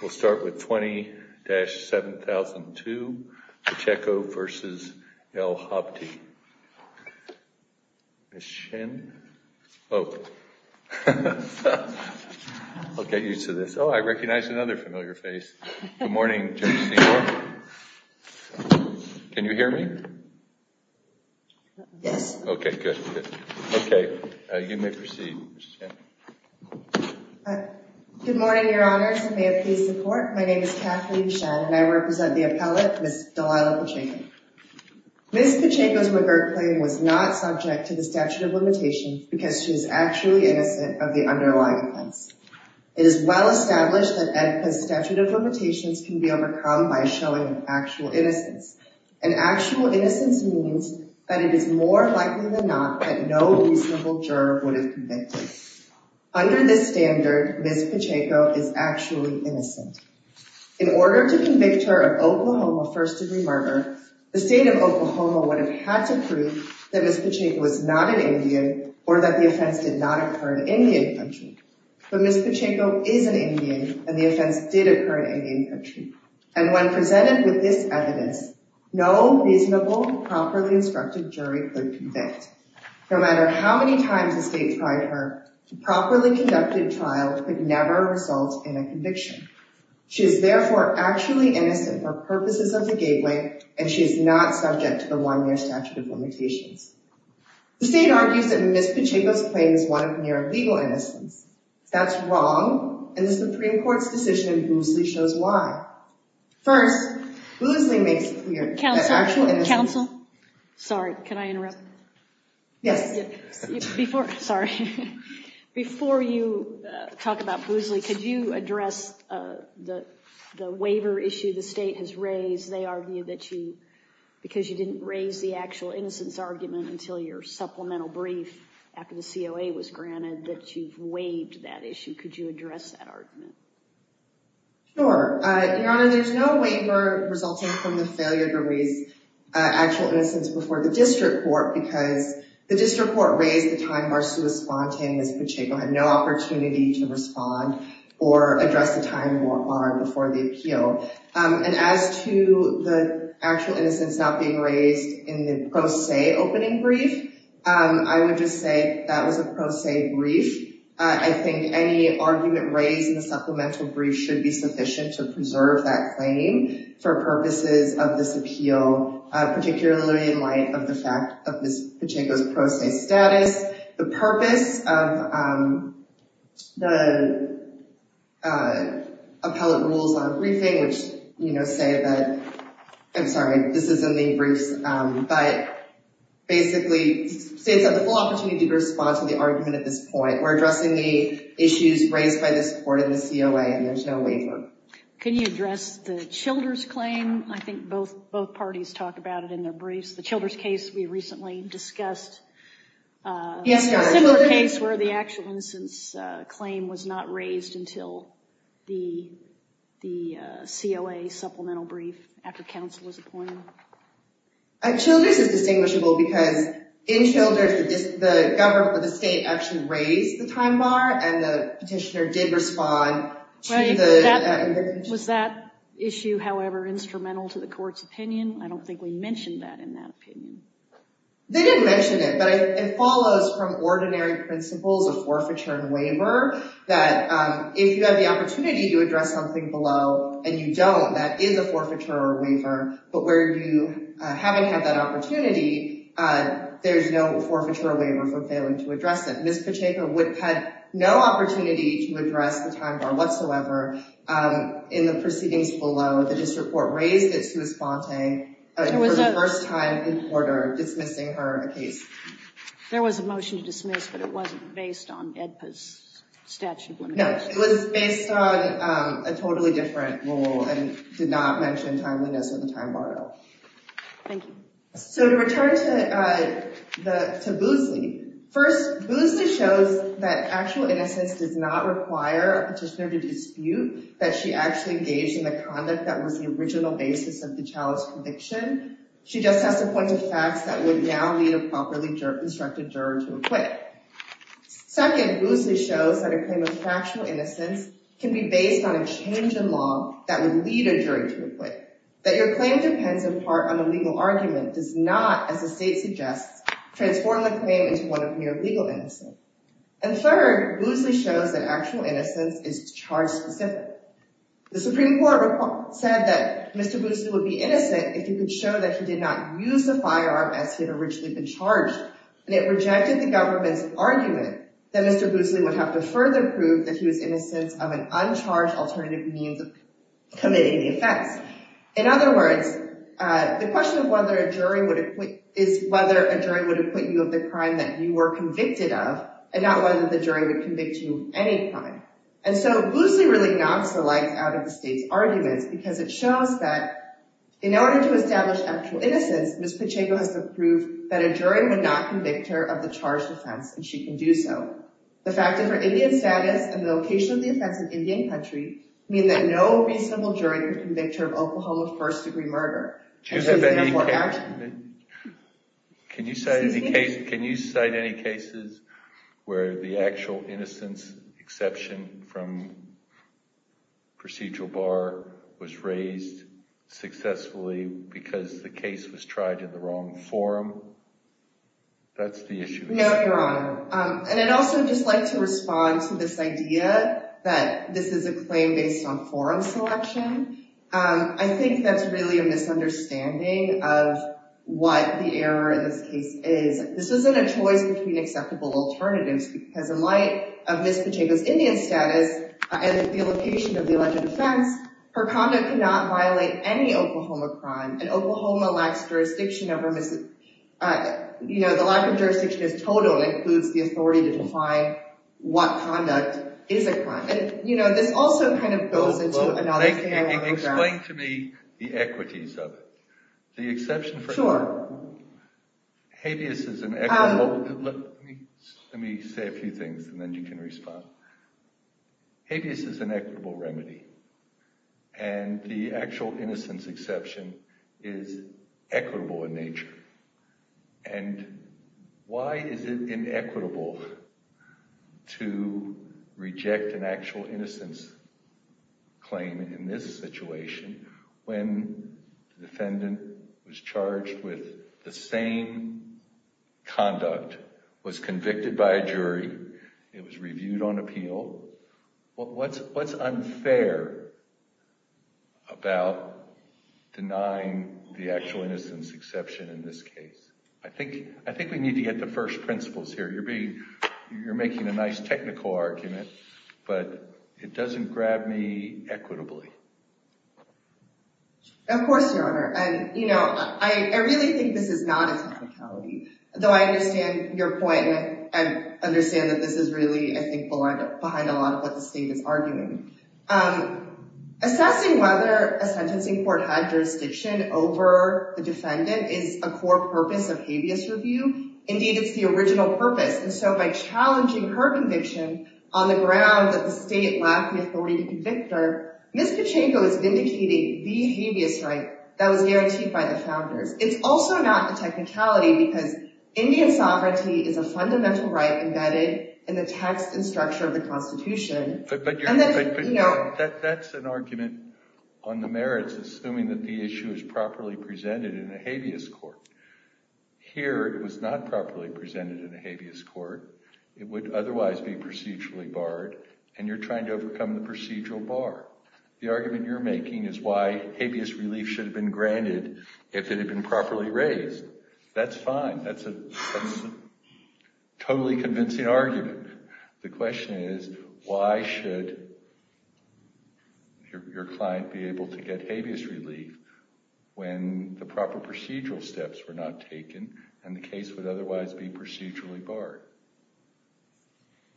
We'll start with 20-7002, Pacheco v. El Habti. Ms. Shin. Oh. I'll get used to this. Oh, I recognize another familiar face. Good morning, Jim Seymour. Can you hear me? Yes. Okay, good. Good morning, Your Honors, and may it please the Court. My name is Kathleen Shin, and I represent the appellate, Ms. Delilah Pacheco. Ms. Pacheco's revert claim was not subject to the statute of limitations because she is actually innocent of the underlying offense. It is well established that Edka's statute of limitations can be overcome by showing actual innocence. And actual innocence means that it is more likely than not that no reasonable juror would have convicted. Under this standard, Ms. Pacheco is actually innocent. In order to convict her of Oklahoma first-degree murder, the state of Oklahoma would have had to prove that Ms. Pacheco was not an Indian or that the offense did not occur in Indian country. But Ms. Pacheco is an Indian, and the offense did occur in Indian country. And when presented with this evidence, no reasonable, properly instructed jury could convict. No matter how many times the state tried her, a properly conducted trial could never result in a conviction. She is therefore actually innocent for purposes of the gateway, and she is not subject to the one-year statute of limitations. The state argues that Ms. Pacheco's claim is one of mere legal innocence. That's wrong, and the Supreme Court's decision in Boosley shows why. First, Boosley makes clear that actual innocence... Counsel, counsel, sorry, can I interrupt? Yes. Before, sorry. Before you talk about Boosley, could you address the waiver issue the state has raised? They argue that you, because you didn't raise the actual innocence argument until your supplemental brief after the COA was granted, that you've waived that issue. Could you address that argument? Sure. Your Honor, there's no waiver resulting from the failure to raise actual innocence before the district court, because the district court raised the time of Arsua Spontan, Ms. Pacheco had no opportunity to respond or address the time before the appeal. As to the actual innocence not being raised in the pro se opening brief, I would just say that was a pro se brief. I think any argument raised in the supplemental brief should be sufficient to preserve that claim for purposes of this appeal, particularly in light of the fact of Ms. Pacheco's pro se status. The purpose of the appellate rules on briefing, which say that, I'm sorry, this is in the briefs, but basically states that the full opportunity to respond to the argument at this point. We're addressing the issues raised by this court and the COA, and there's no waiver. Can you address the Childers claim? I think both parties talked about it in their briefs. The Childers case we recently discussed. Yes, Your Honor. A similar case where the actual innocence claim was not raised until the COA supplemental brief after counsel was appointed. Childers is distinguishable because in Childers, the government or the state actually raised the time bar, and the petitioner did respond to the petition. Was that issue, however, instrumental to the court's opinion? I don't think we mentioned that in that opinion. They didn't mention it, but it follows from ordinary principles of forfeiture and waiver that if you have the opportunity to address something below and you don't, that is a forfeiture or waiver. But where you haven't had that opportunity, there's no forfeiture or waiver for failing to address it. Ms. Pacheco had no opportunity to address the time bar whatsoever in the proceedings below. The district court raised it sui sponte for the first time in quarter, dismissing her case. There was a motion to dismiss, but it wasn't based on AEDPA's statute of limitations. No, it was based on a totally different rule and did not mention timeliness or the time bar at all. Thank you. To return to Boosley, first, Boosley shows that actual innocence does not require a petitioner to dispute that she actually engaged in the conduct that was the original basis of the Childers conviction. She just has to point to facts that would now lead a properly instructed juror to acquit. Second, Boosley shows that a claim of factual innocence can be based on a change in law that would lead a juror to acquit. That your claim depends in part on a legal argument does not, as the state suggests, transform the claim into one of mere legal innocence. And third, Boosley shows that actual innocence is charge specific. The Supreme Court said that Mr. Boosley would be innocent if you could show that he did not use the firearm as he had originally been charged. And it rejected the government's argument that Mr. Boosley would have to further prove that he was innocent of an uncharged alternative means of committing the offense. In other words, the question of whether a jury would acquit is whether a jury would acquit you of the crime that you were convicted of and not whether the jury would convict you of any crime. And so Boosley really knocks the light out of the state's arguments because it shows that in order to establish actual innocence, Ms. Pacheco has to prove that a jury would not convict her of the charged offense and she can do so. The fact that her Indian status and the location of the offense in Indian country mean that no reasonable jury would convict her of Oklahoma first degree murder. Can you cite any cases where the actual innocence exception from procedural bar was raised successfully because the case was tried in the wrong forum? That's the issue. No, Your Honor. And I'd also just like to respond to this idea that this is a claim based on forum selection. I think that's really a misunderstanding of what the error in this case is. This isn't a choice between acceptable alternatives because in light of Ms. Pacheco's Indian status and the location of the alleged offense, her conduct could not violate any Oklahoma crime. And Oklahoma lacks jurisdiction over, you know, the lack of jurisdiction is total and includes the authority to define what conduct is a crime. You know, this also kind of goes into another area. Explain to me the equities of it. The exception for sure. Habeas is an equitable. Let me say a few things and then you can respond. Habeas is an equitable remedy and the actual innocence exception is equitable in nature. And why is it inequitable to reject an actual innocence claim in this situation when the defendant was charged with the same conduct, was convicted by a jury, it was reviewed on appeal? What's unfair about denying the actual innocence exception in this case? I think we need to get the first principles here. You're making a nice technical argument, but it doesn't grab me equitably. Of course, Your Honor. And, you know, I really think this is not a technicality, though I understand your point and understand that this is really, I think, behind a lot of what the state is arguing. Assessing whether a sentencing court had jurisdiction over the defendant is a core purpose of habeas review. Indeed, it's the original purpose. And so by challenging her conviction on the ground that the state lacked the authority to convict her, Ms. Kuchenko is vindicating the habeas right that was guaranteed by the founders. It's also not a technicality because Indian sovereignty is a fundamental right embedded in the text and structure of the Constitution. But that's an argument on the merits, assuming that the issue is properly presented in a habeas court. Here, it was not properly presented in a habeas court. It would otherwise be procedurally barred, and you're trying to overcome the procedural bar. The argument you're making is why habeas relief should have been granted if it had been properly raised. That's fine. That's a totally convincing argument. The question is, why should your client be able to get habeas relief when the proper procedural steps were not taken and the case would otherwise be procedurally barred?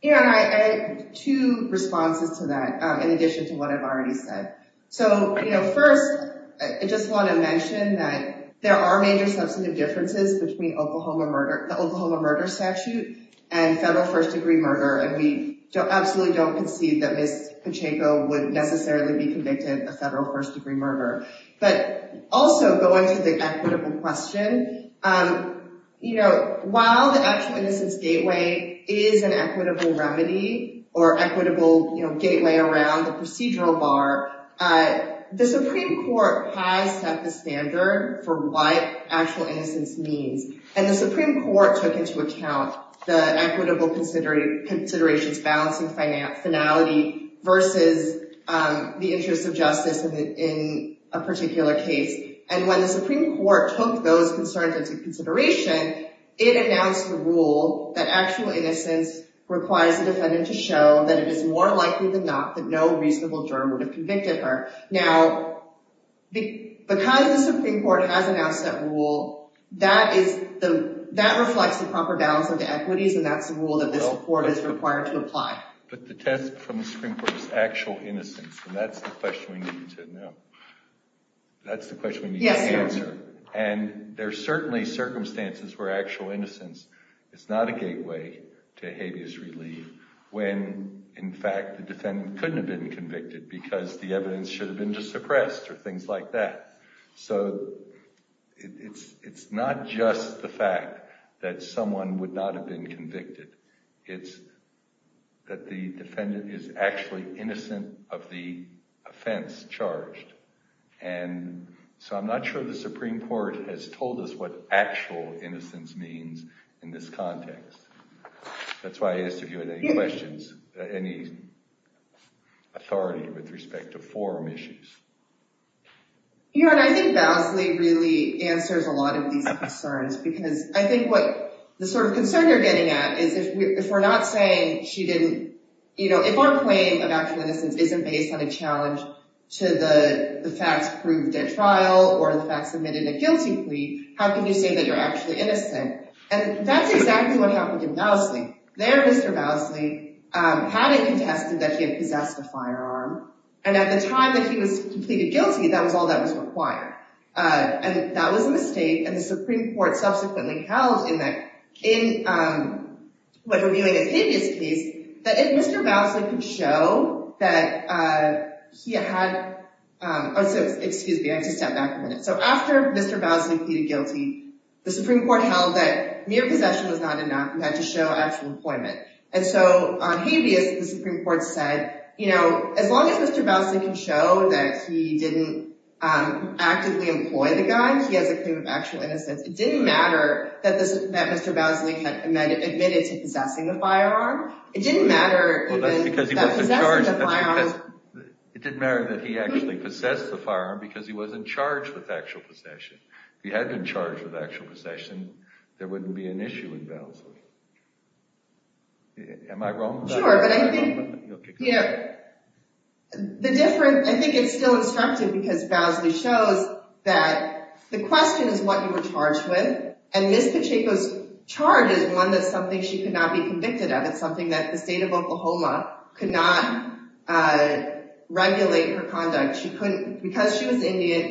Yeah, and I had two responses to that in addition to what I've already said. First, I just want to mention that there are major substantive differences between the Oklahoma murder statute and federal first degree murder. And we absolutely don't concede that Ms. Kuchenko would necessarily be convicted of federal first degree murder. But also, going to the equitable question, while the actual innocence gateway is an equitable remedy or equitable gateway around the procedural bar, the Supreme Court has set the standard for what actual innocence means. And the Supreme Court took into account the equitable considerations balancing finality versus the interest of justice in a particular case. And when the Supreme Court took those concerns into consideration, it announced the rule that actual innocence requires the defendant to show that it is more likely than not that no reasonable juror would have convicted her. Now, because the Supreme Court has announced that rule, that reflects the proper balance of the equities, and that's the rule that the Supreme Court is required to apply. But the test from the Supreme Court is actual innocence, and that's the question we need to answer. And there are certainly circumstances where actual innocence is not a gateway to habeas relief when, in fact, the defendant couldn't have been convicted because the evidence should have been suppressed or things like that. So it's not just the fact that someone would not have been convicted. It's that the defendant is actually innocent of the offense charged. And so I'm not sure the Supreme Court has told us what actual innocence means in this context. That's why I asked if you had any questions, any authority with respect to forum issues. Your Honor, I think Mousley really answers a lot of these concerns because I think what the sort of concern you're getting at is if we're not saying she didn't – if our claim of actual innocence isn't based on a challenge to the facts proved at trial or the facts admitted at guilty plea, how can you say that you're actually innocent? And that's exactly what happened to Mousley. There, Mr. Mousley had it contested that he had possessed a firearm, and at the time that he was pleaded guilty, that was all that was required. And that was a mistake, and the Supreme Court subsequently held in reviewing a habeas case that if Mr. Mousley could show that he had – excuse me, I have to step back a minute. So after Mr. Mousley pleaded guilty, the Supreme Court held that mere possession was not enough not to show actual employment. And so on habeas, the Supreme Court said as long as Mr. Mousley can show that he didn't actively employ the gun, he has a claim of actual innocence. It didn't matter that Mr. Mousley had admitted to possessing the firearm. Well, that's because he wasn't charged. It didn't matter that he actually possessed the firearm because he wasn't charged with actual possession. If he had been charged with actual possession, there wouldn't be an issue in Bowsley. Am I wrong about that? Because she was Indian,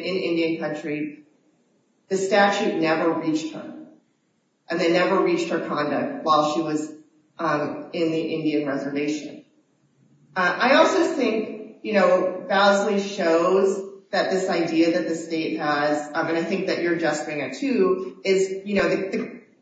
in Indian country, the statute never reached her, and they never reached her conduct while she was in the Indian reservation. I also think, you know, Bowsley shows that this idea that the state has, and I think that you're addressing it too, is, you know,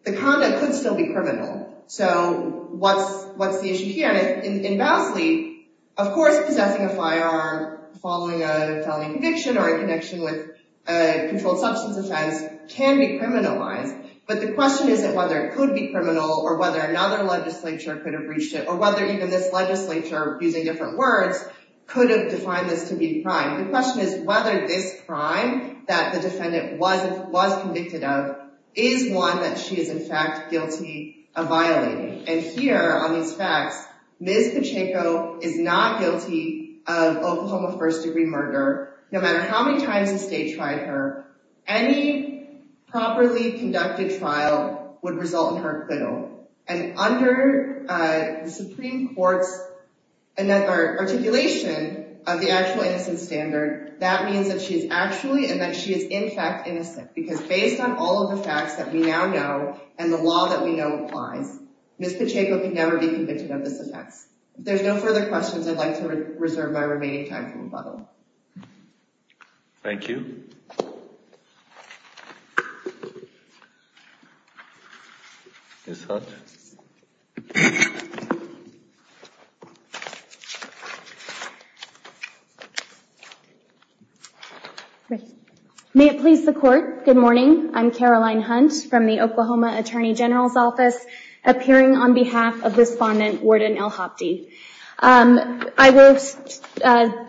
the conduct could still be criminal. So what's the issue here? In Bowsley, of course, possessing a firearm following a felony conviction or a connection with a controlled substance offense can be criminalized. But the question isn't whether it could be criminal or whether another legislature could have breached it or whether even this legislature, using different words, could have defined this to be a crime. The question is whether this crime that the defendant was convicted of is one that she is, in fact, guilty of violating. And here, on these facts, Ms. Pacheco is not guilty of Oklahoma first-degree murder. No matter how many times the state tried her, any properly conducted trial would result in her acquittal. And under the Supreme Court's articulation of the actual innocent standard, that means that she is actually and that she is, in fact, innocent. Because based on all of the facts that we now know and the law that we know applies, Ms. Pacheco can never be convicted of this offense. If there's no further questions, I'd like to reserve my remaining time for rebuttal. Thank you. Thank you. Ms. Hunt. May it please the Court, good morning. I'm Caroline Hunt from the Oklahoma Attorney General's Office, appearing on behalf of Respondent Warden L. Hopde. I will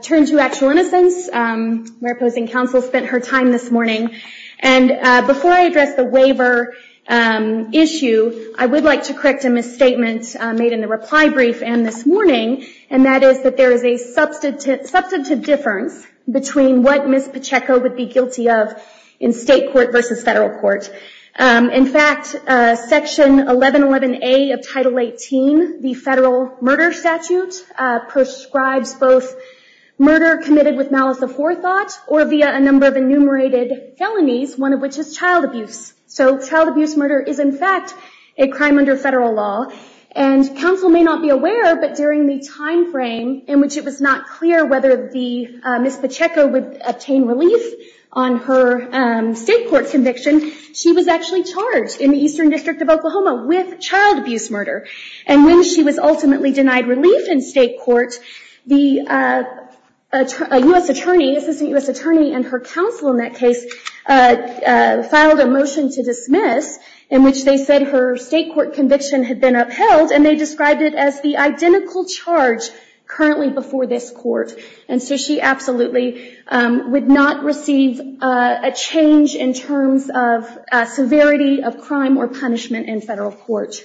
turn to actual innocence. My opposing counsel spent her time this morning. And before I address the waiver issue, I would like to correct a misstatement made in the reply brief and this morning, and that is that there is a substantive difference between what Ms. Pacheco would be guilty of in state court versus federal court. In fact, Section 1111A of Title 18, the federal murder statute, prescribes both murder committed with malice of forethought or via a number of enumerated felonies, one of which is child abuse. So child abuse murder is, in fact, a crime under federal law. And counsel may not be aware, but during the time frame in which it was not clear whether Ms. Pacheco would obtain relief on her state court conviction, she was actually charged in the Eastern District of Oklahoma with child abuse murder. And when she was ultimately denied relief in state court, the U.S. Attorney, Assistant U.S. Attorney, and her counsel in that case filed a motion to dismiss in which they said her state court conviction had been upheld, and they described it as the identical charge currently before this court. And so she absolutely would not receive a change in terms of severity of crime or punishment in federal court.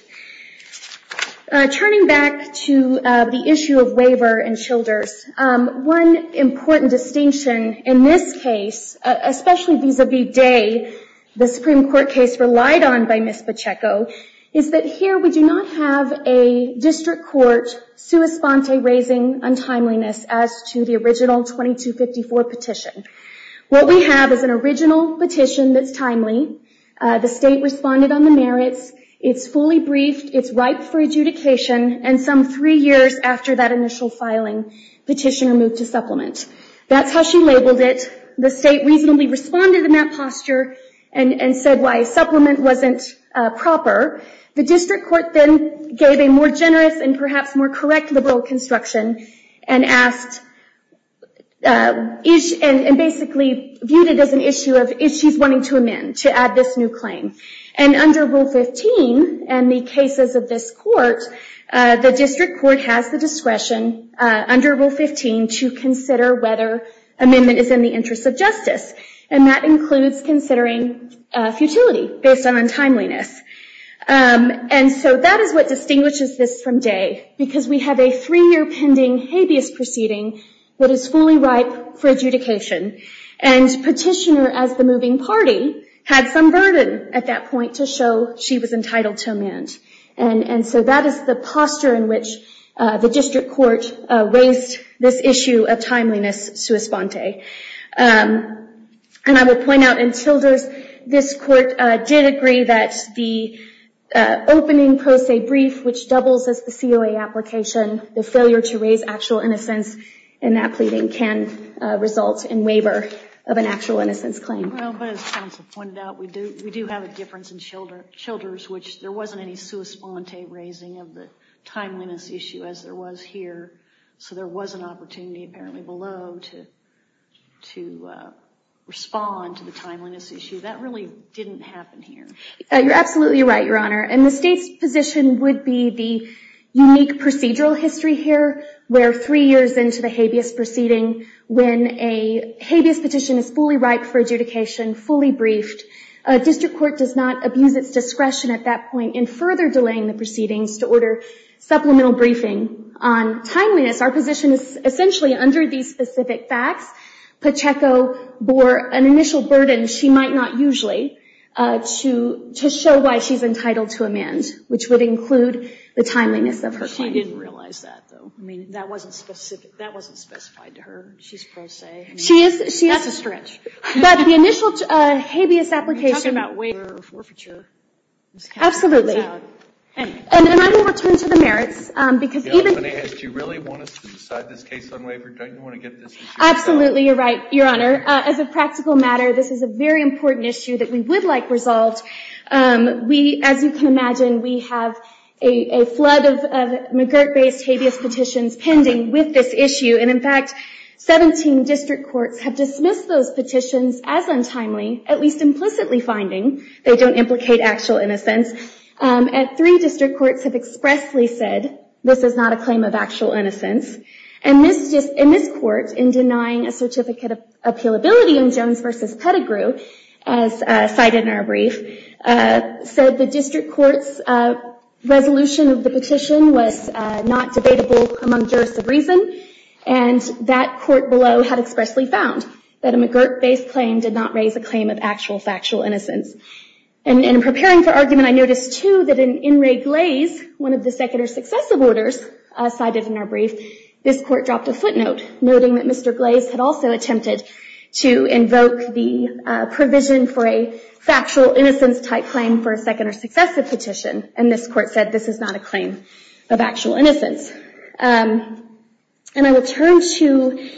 Turning back to the issue of waiver and Childers, one important distinction in this case, especially vis-a-vis Day, the Supreme Court case relied on by Ms. Pacheco, is that here we do not have a district court sua sponte raising untimeliness as to the original 2254 petition. What we have is an original petition that's timely. The state responded on the merits. It's fully briefed. It's ripe for adjudication. And some three years after that initial filing, petitioner moved to supplement. That's how she labeled it. The state reasonably responded in that posture and said why a supplement wasn't proper. The district court then gave a more generous and perhaps more correct liberal construction and asked, and basically viewed it as an issue of if she's wanting to amend to add this new claim. And under Rule 15 in the cases of this court, the district court has the discretion under Rule 15 to consider whether amendment is in the interest of justice. And that includes considering futility based on untimeliness. And so that is what distinguishes this from Day, because we have a three-year pending habeas proceeding that is fully ripe for adjudication. And petitioner, as the moving party, had some burden at that point to show she was entitled to amend. And so that is the posture in which the district court raised this issue of timeliness sua sponte. And I will point out in Childers, this court did agree that the opening pro se brief, which doubles as the COA application, the failure to raise actual innocence in that pleading, can result in waiver of an actual innocence claim. Well, but as counsel pointed out, we do have a difference in Childers, which there wasn't any sua sponte raising of the timeliness issue as there was here. So there was an opportunity apparently below to respond to the timeliness issue. That really didn't happen here. You're absolutely right, Your Honor. And the state's position would be the unique procedural history here, where three years into the habeas proceeding, when a habeas petition is fully ripe for adjudication, fully briefed, a district court does not abuse its discretion at that point in further delaying the proceedings to order supplemental briefing on timeliness. Our position is essentially under these specific facts. Pacheco bore an initial burden she might not usually to show why she's entitled to amend, which would include the timeliness of her claim. I didn't realize that, though. I mean, that wasn't specified to her. She's pro se. She is. That's a stretch. But the initial habeas application. You're talking about waiver or forfeiture. Absolutely. And I'm going to return to the merits. Do you really want us to decide this case on waiver? Don't you want to get this issue resolved? Absolutely. You're right, Your Honor. As a practical matter, this is a very important issue that we would like resolved. As you can imagine, we have a flood of McGirt-based habeas petitions pending with this issue. And in fact, 17 district courts have dismissed those petitions as untimely, at least implicitly finding they don't implicate actual innocence. And three district courts have expressly said this is not a claim of actual innocence. And this court, in denying a certificate of appealability in Jones v. Pettigrew, as cited in our brief, said the district court's resolution of the petition was not debatable among jurists of reason. And that court below had expressly found that a McGirt-based claim did not raise a claim of actual, factual innocence. And in preparing for argument, I noticed, too, that in In re Glaze, one of the second or successive orders cited in our brief, this court dropped a footnote noting that Mr. Glaze had also attempted to invoke the provision for a factual innocence type claim for a second or successive petition. And this court said this is not a claim of actual innocence. And I will turn to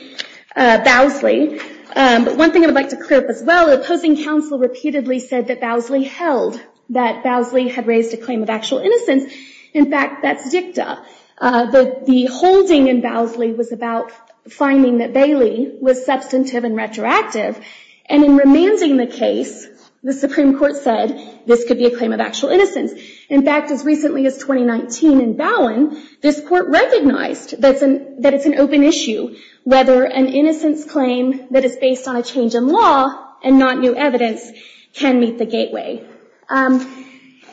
Bowsley. One thing I would like to clear up as well, the opposing counsel repeatedly said that Bowsley held, that Bowsley had raised a claim of actual innocence. In fact, that's dicta. The holding in Bowsley was about finding that Bailey was substantive and retroactive. And in remanding the case, the Supreme Court said this could be a claim of actual innocence. In fact, as recently as 2019 in Bowen, this court recognized that it's an open issue whether an innocence claim that is based on a change in law and not new evidence can meet the gateway. And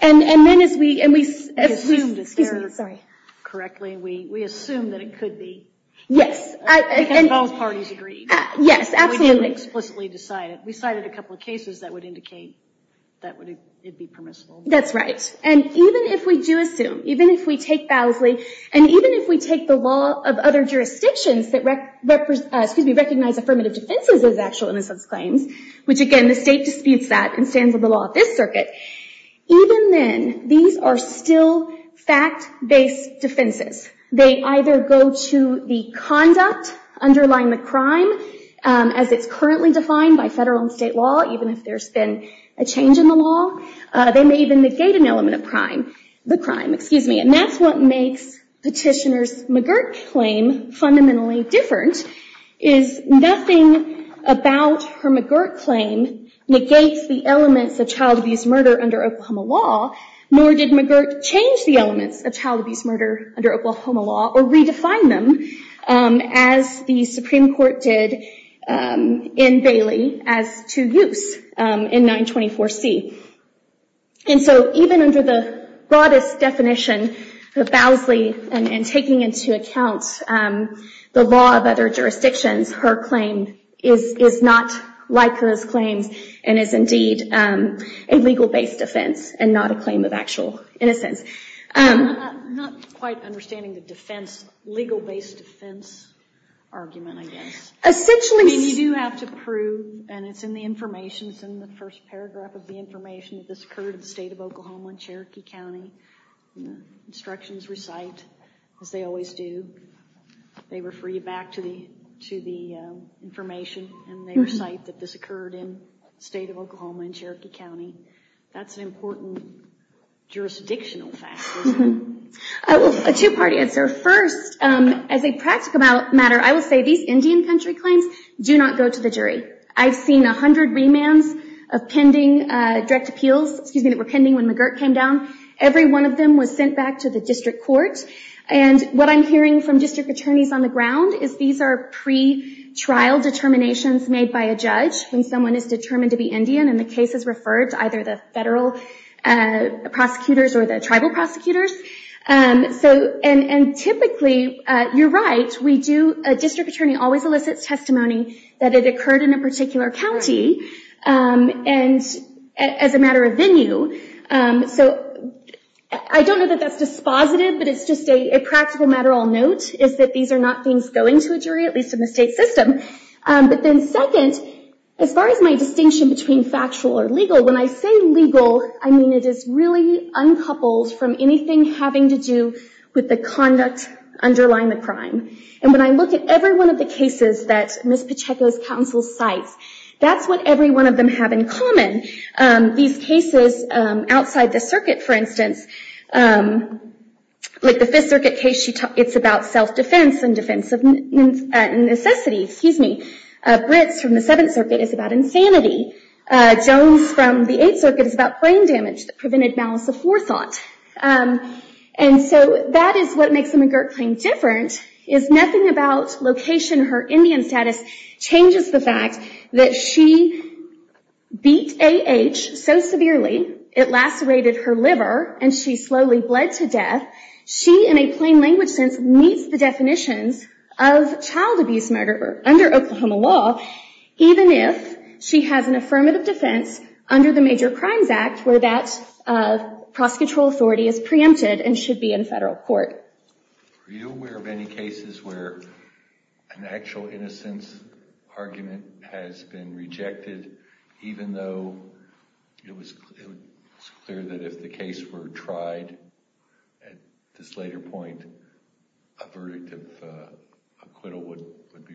then as we, and we, excuse me, sorry. Correctly, we assume that it could be. Yes. Because both parties agreed. Yes, absolutely. We didn't explicitly decide it. We cited a couple of cases that would indicate that it would be permissible. That's right. And even if we do assume, even if we take Bowsley, and even if we take the law of other jurisdictions that, excuse me, recognize affirmative defenses as actual innocence claims, which again, the state disputes that and stands with the law of this circuit. Even then, these are still fact-based defenses. They either go to the conduct underlying the crime as it's currently defined by federal and state law, even if there's been a change in the law. They may even negate an element of crime, the crime, excuse me. And that's what makes Petitioner's McGirt claim fundamentally different, is nothing about her McGirt claim negates the elements of child abuse murder under Oklahoma law, nor did McGirt change the elements of child abuse murder under Oklahoma law or redefine them as the Supreme Court did in Bailey as to use in 924C. And so even under the broadest definition of Bowsley and taking into account the law of other jurisdictions, her claim is not like hers claims and is indeed a legal-based defense and not a claim of actual innocence. I'm not quite understanding the defense, legal-based defense argument, I guess. Essentially... I mean, you do have to prove, and it's in the information, it's in the first paragraph of the information that this occurred in the state of Oklahoma in Cherokee County. Instructions recite, as they always do, they refer you back to the information and they recite that this occurred in the state of Oklahoma in Cherokee County. That's an important jurisdictional fact. A two-part answer. First, as a practical matter, I will say these Indian country claims do not go to the jury. I've seen 100 remands of pending direct appeals that were pending when McGirt came down. Every one of them was sent back to the district court. And what I'm hearing from district attorneys on the ground is these are pre-trial determinations made by a judge when someone is determined to be Indian and the case is referred to either the federal prosecutors or the tribal prosecutors. Typically, you're right, a district attorney always elicits testimony that it occurred in a particular county as a matter of venue. I don't know that that's dispositive, but it's just a practical matter I'll note, is that these are not things going to a jury, at least in the state system. But then second, as far as my distinction between factual or legal, when I say legal, I mean it is really uncoupled from anything having to do with the conduct underlying the crime. And when I look at every one of the cases that Ms. Pacheco's counsel cites, that's what every one of them have in common. These cases outside the circuit, for instance, like the Fifth Circuit case, it's about self-defense and defense of necessity. Brits from the Seventh Circuit is about insanity. Jones from the Eighth Circuit is about brain damage that prevented malice aforethought. And so that is what makes the McGirt claim different, is nothing about location or her Indian status changes the fact that she beat A.H. so severely, it lacerated her liver, and she slowly bled to death. She, in a plain language sense, meets the definitions of child abuse murder under Oklahoma law, even if she has an affirmative defense under the Major Crimes Act, where that prosecutorial authority is preempted and should be in federal court. Are you aware of any cases where an actual innocence argument has been rejected, even though it was clear that if the case were tried at this later point, a verdict of acquittal would be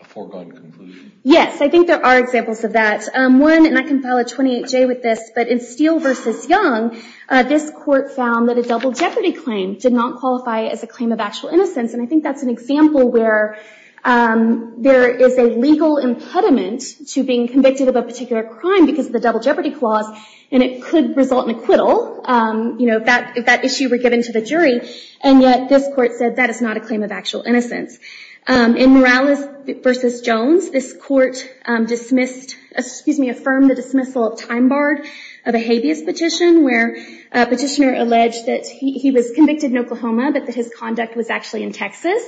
a foregone conclusion? Yes, I think there are examples of that. One, and I can file a 28-J with this, but in Steele v. Young, this court found that a double jeopardy claim did not qualify as a claim of actual innocence. And I think that's an example where there is a legal impediment to being convicted of a particular crime because of the double jeopardy clause, and it could result in acquittal if that issue were given to the jury. And yet this court said that is not a claim of actual innocence. In Morales v. Jones, this court affirmed the dismissal of time barred of a habeas petition, where a petitioner alleged that he was convicted in Oklahoma, but that his conduct was actually in Texas.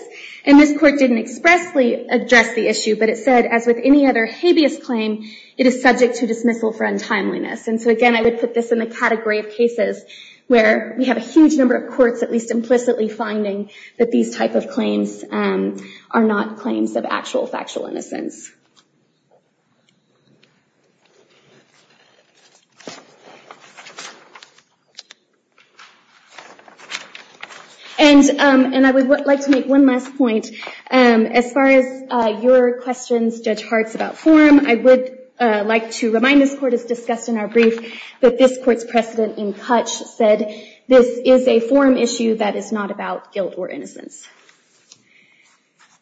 And this court didn't expressly address the issue, but it said, as with any other habeas claim, it is subject to dismissal for untimeliness. And so again, I would put this in the category of cases where we have a huge number of courts at least implicitly finding that these type of claims are not claims of actual factual innocence. And I would like to make one last point. As far as your questions, Judge Hartz, about form, I would like to remind this court, as discussed in our brief, that this court's precedent in Cutch said this is a form issue that is not about guilt or innocence.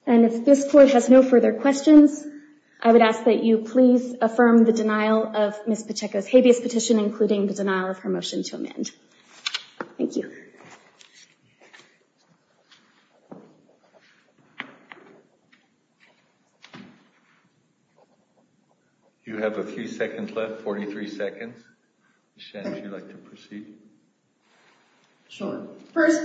And if this court has no further questions, I would ask that you please affirm the denial of Ms. Pacheco's habeas petition, including the denial of her motion to amend. Thank you. Thank you. You have a few seconds left, 43 seconds. Ms. Shen, would you like to proceed? Sure. First,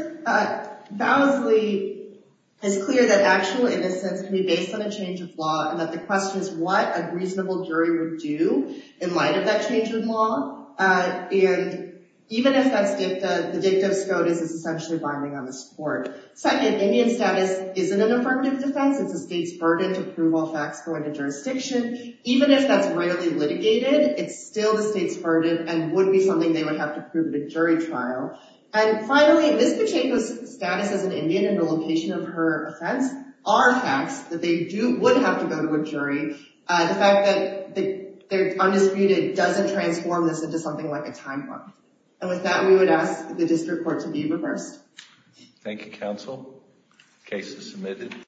validly, it's clear that actual innocence can be based on a change of law, and that the question is what a reasonable jury would do in light of that change of law. And even if that's dicta, the dicta of SCOTUS is essentially binding on this court. Second, Indian status isn't an affirmative defense. It's the state's burden to prove all facts going to jurisdiction. Even if that's readily litigated, it's still the state's burden and would be something they would have to prove at a jury trial. And finally, Ms. Pacheco's status as an Indian and the location of her offense are facts that they would have to go to a jury. The fact that they're undisputed doesn't transform this into something like a time bomb. And with that, we would ask the district court to be reversed. Thank you, counsel. Case is submitted.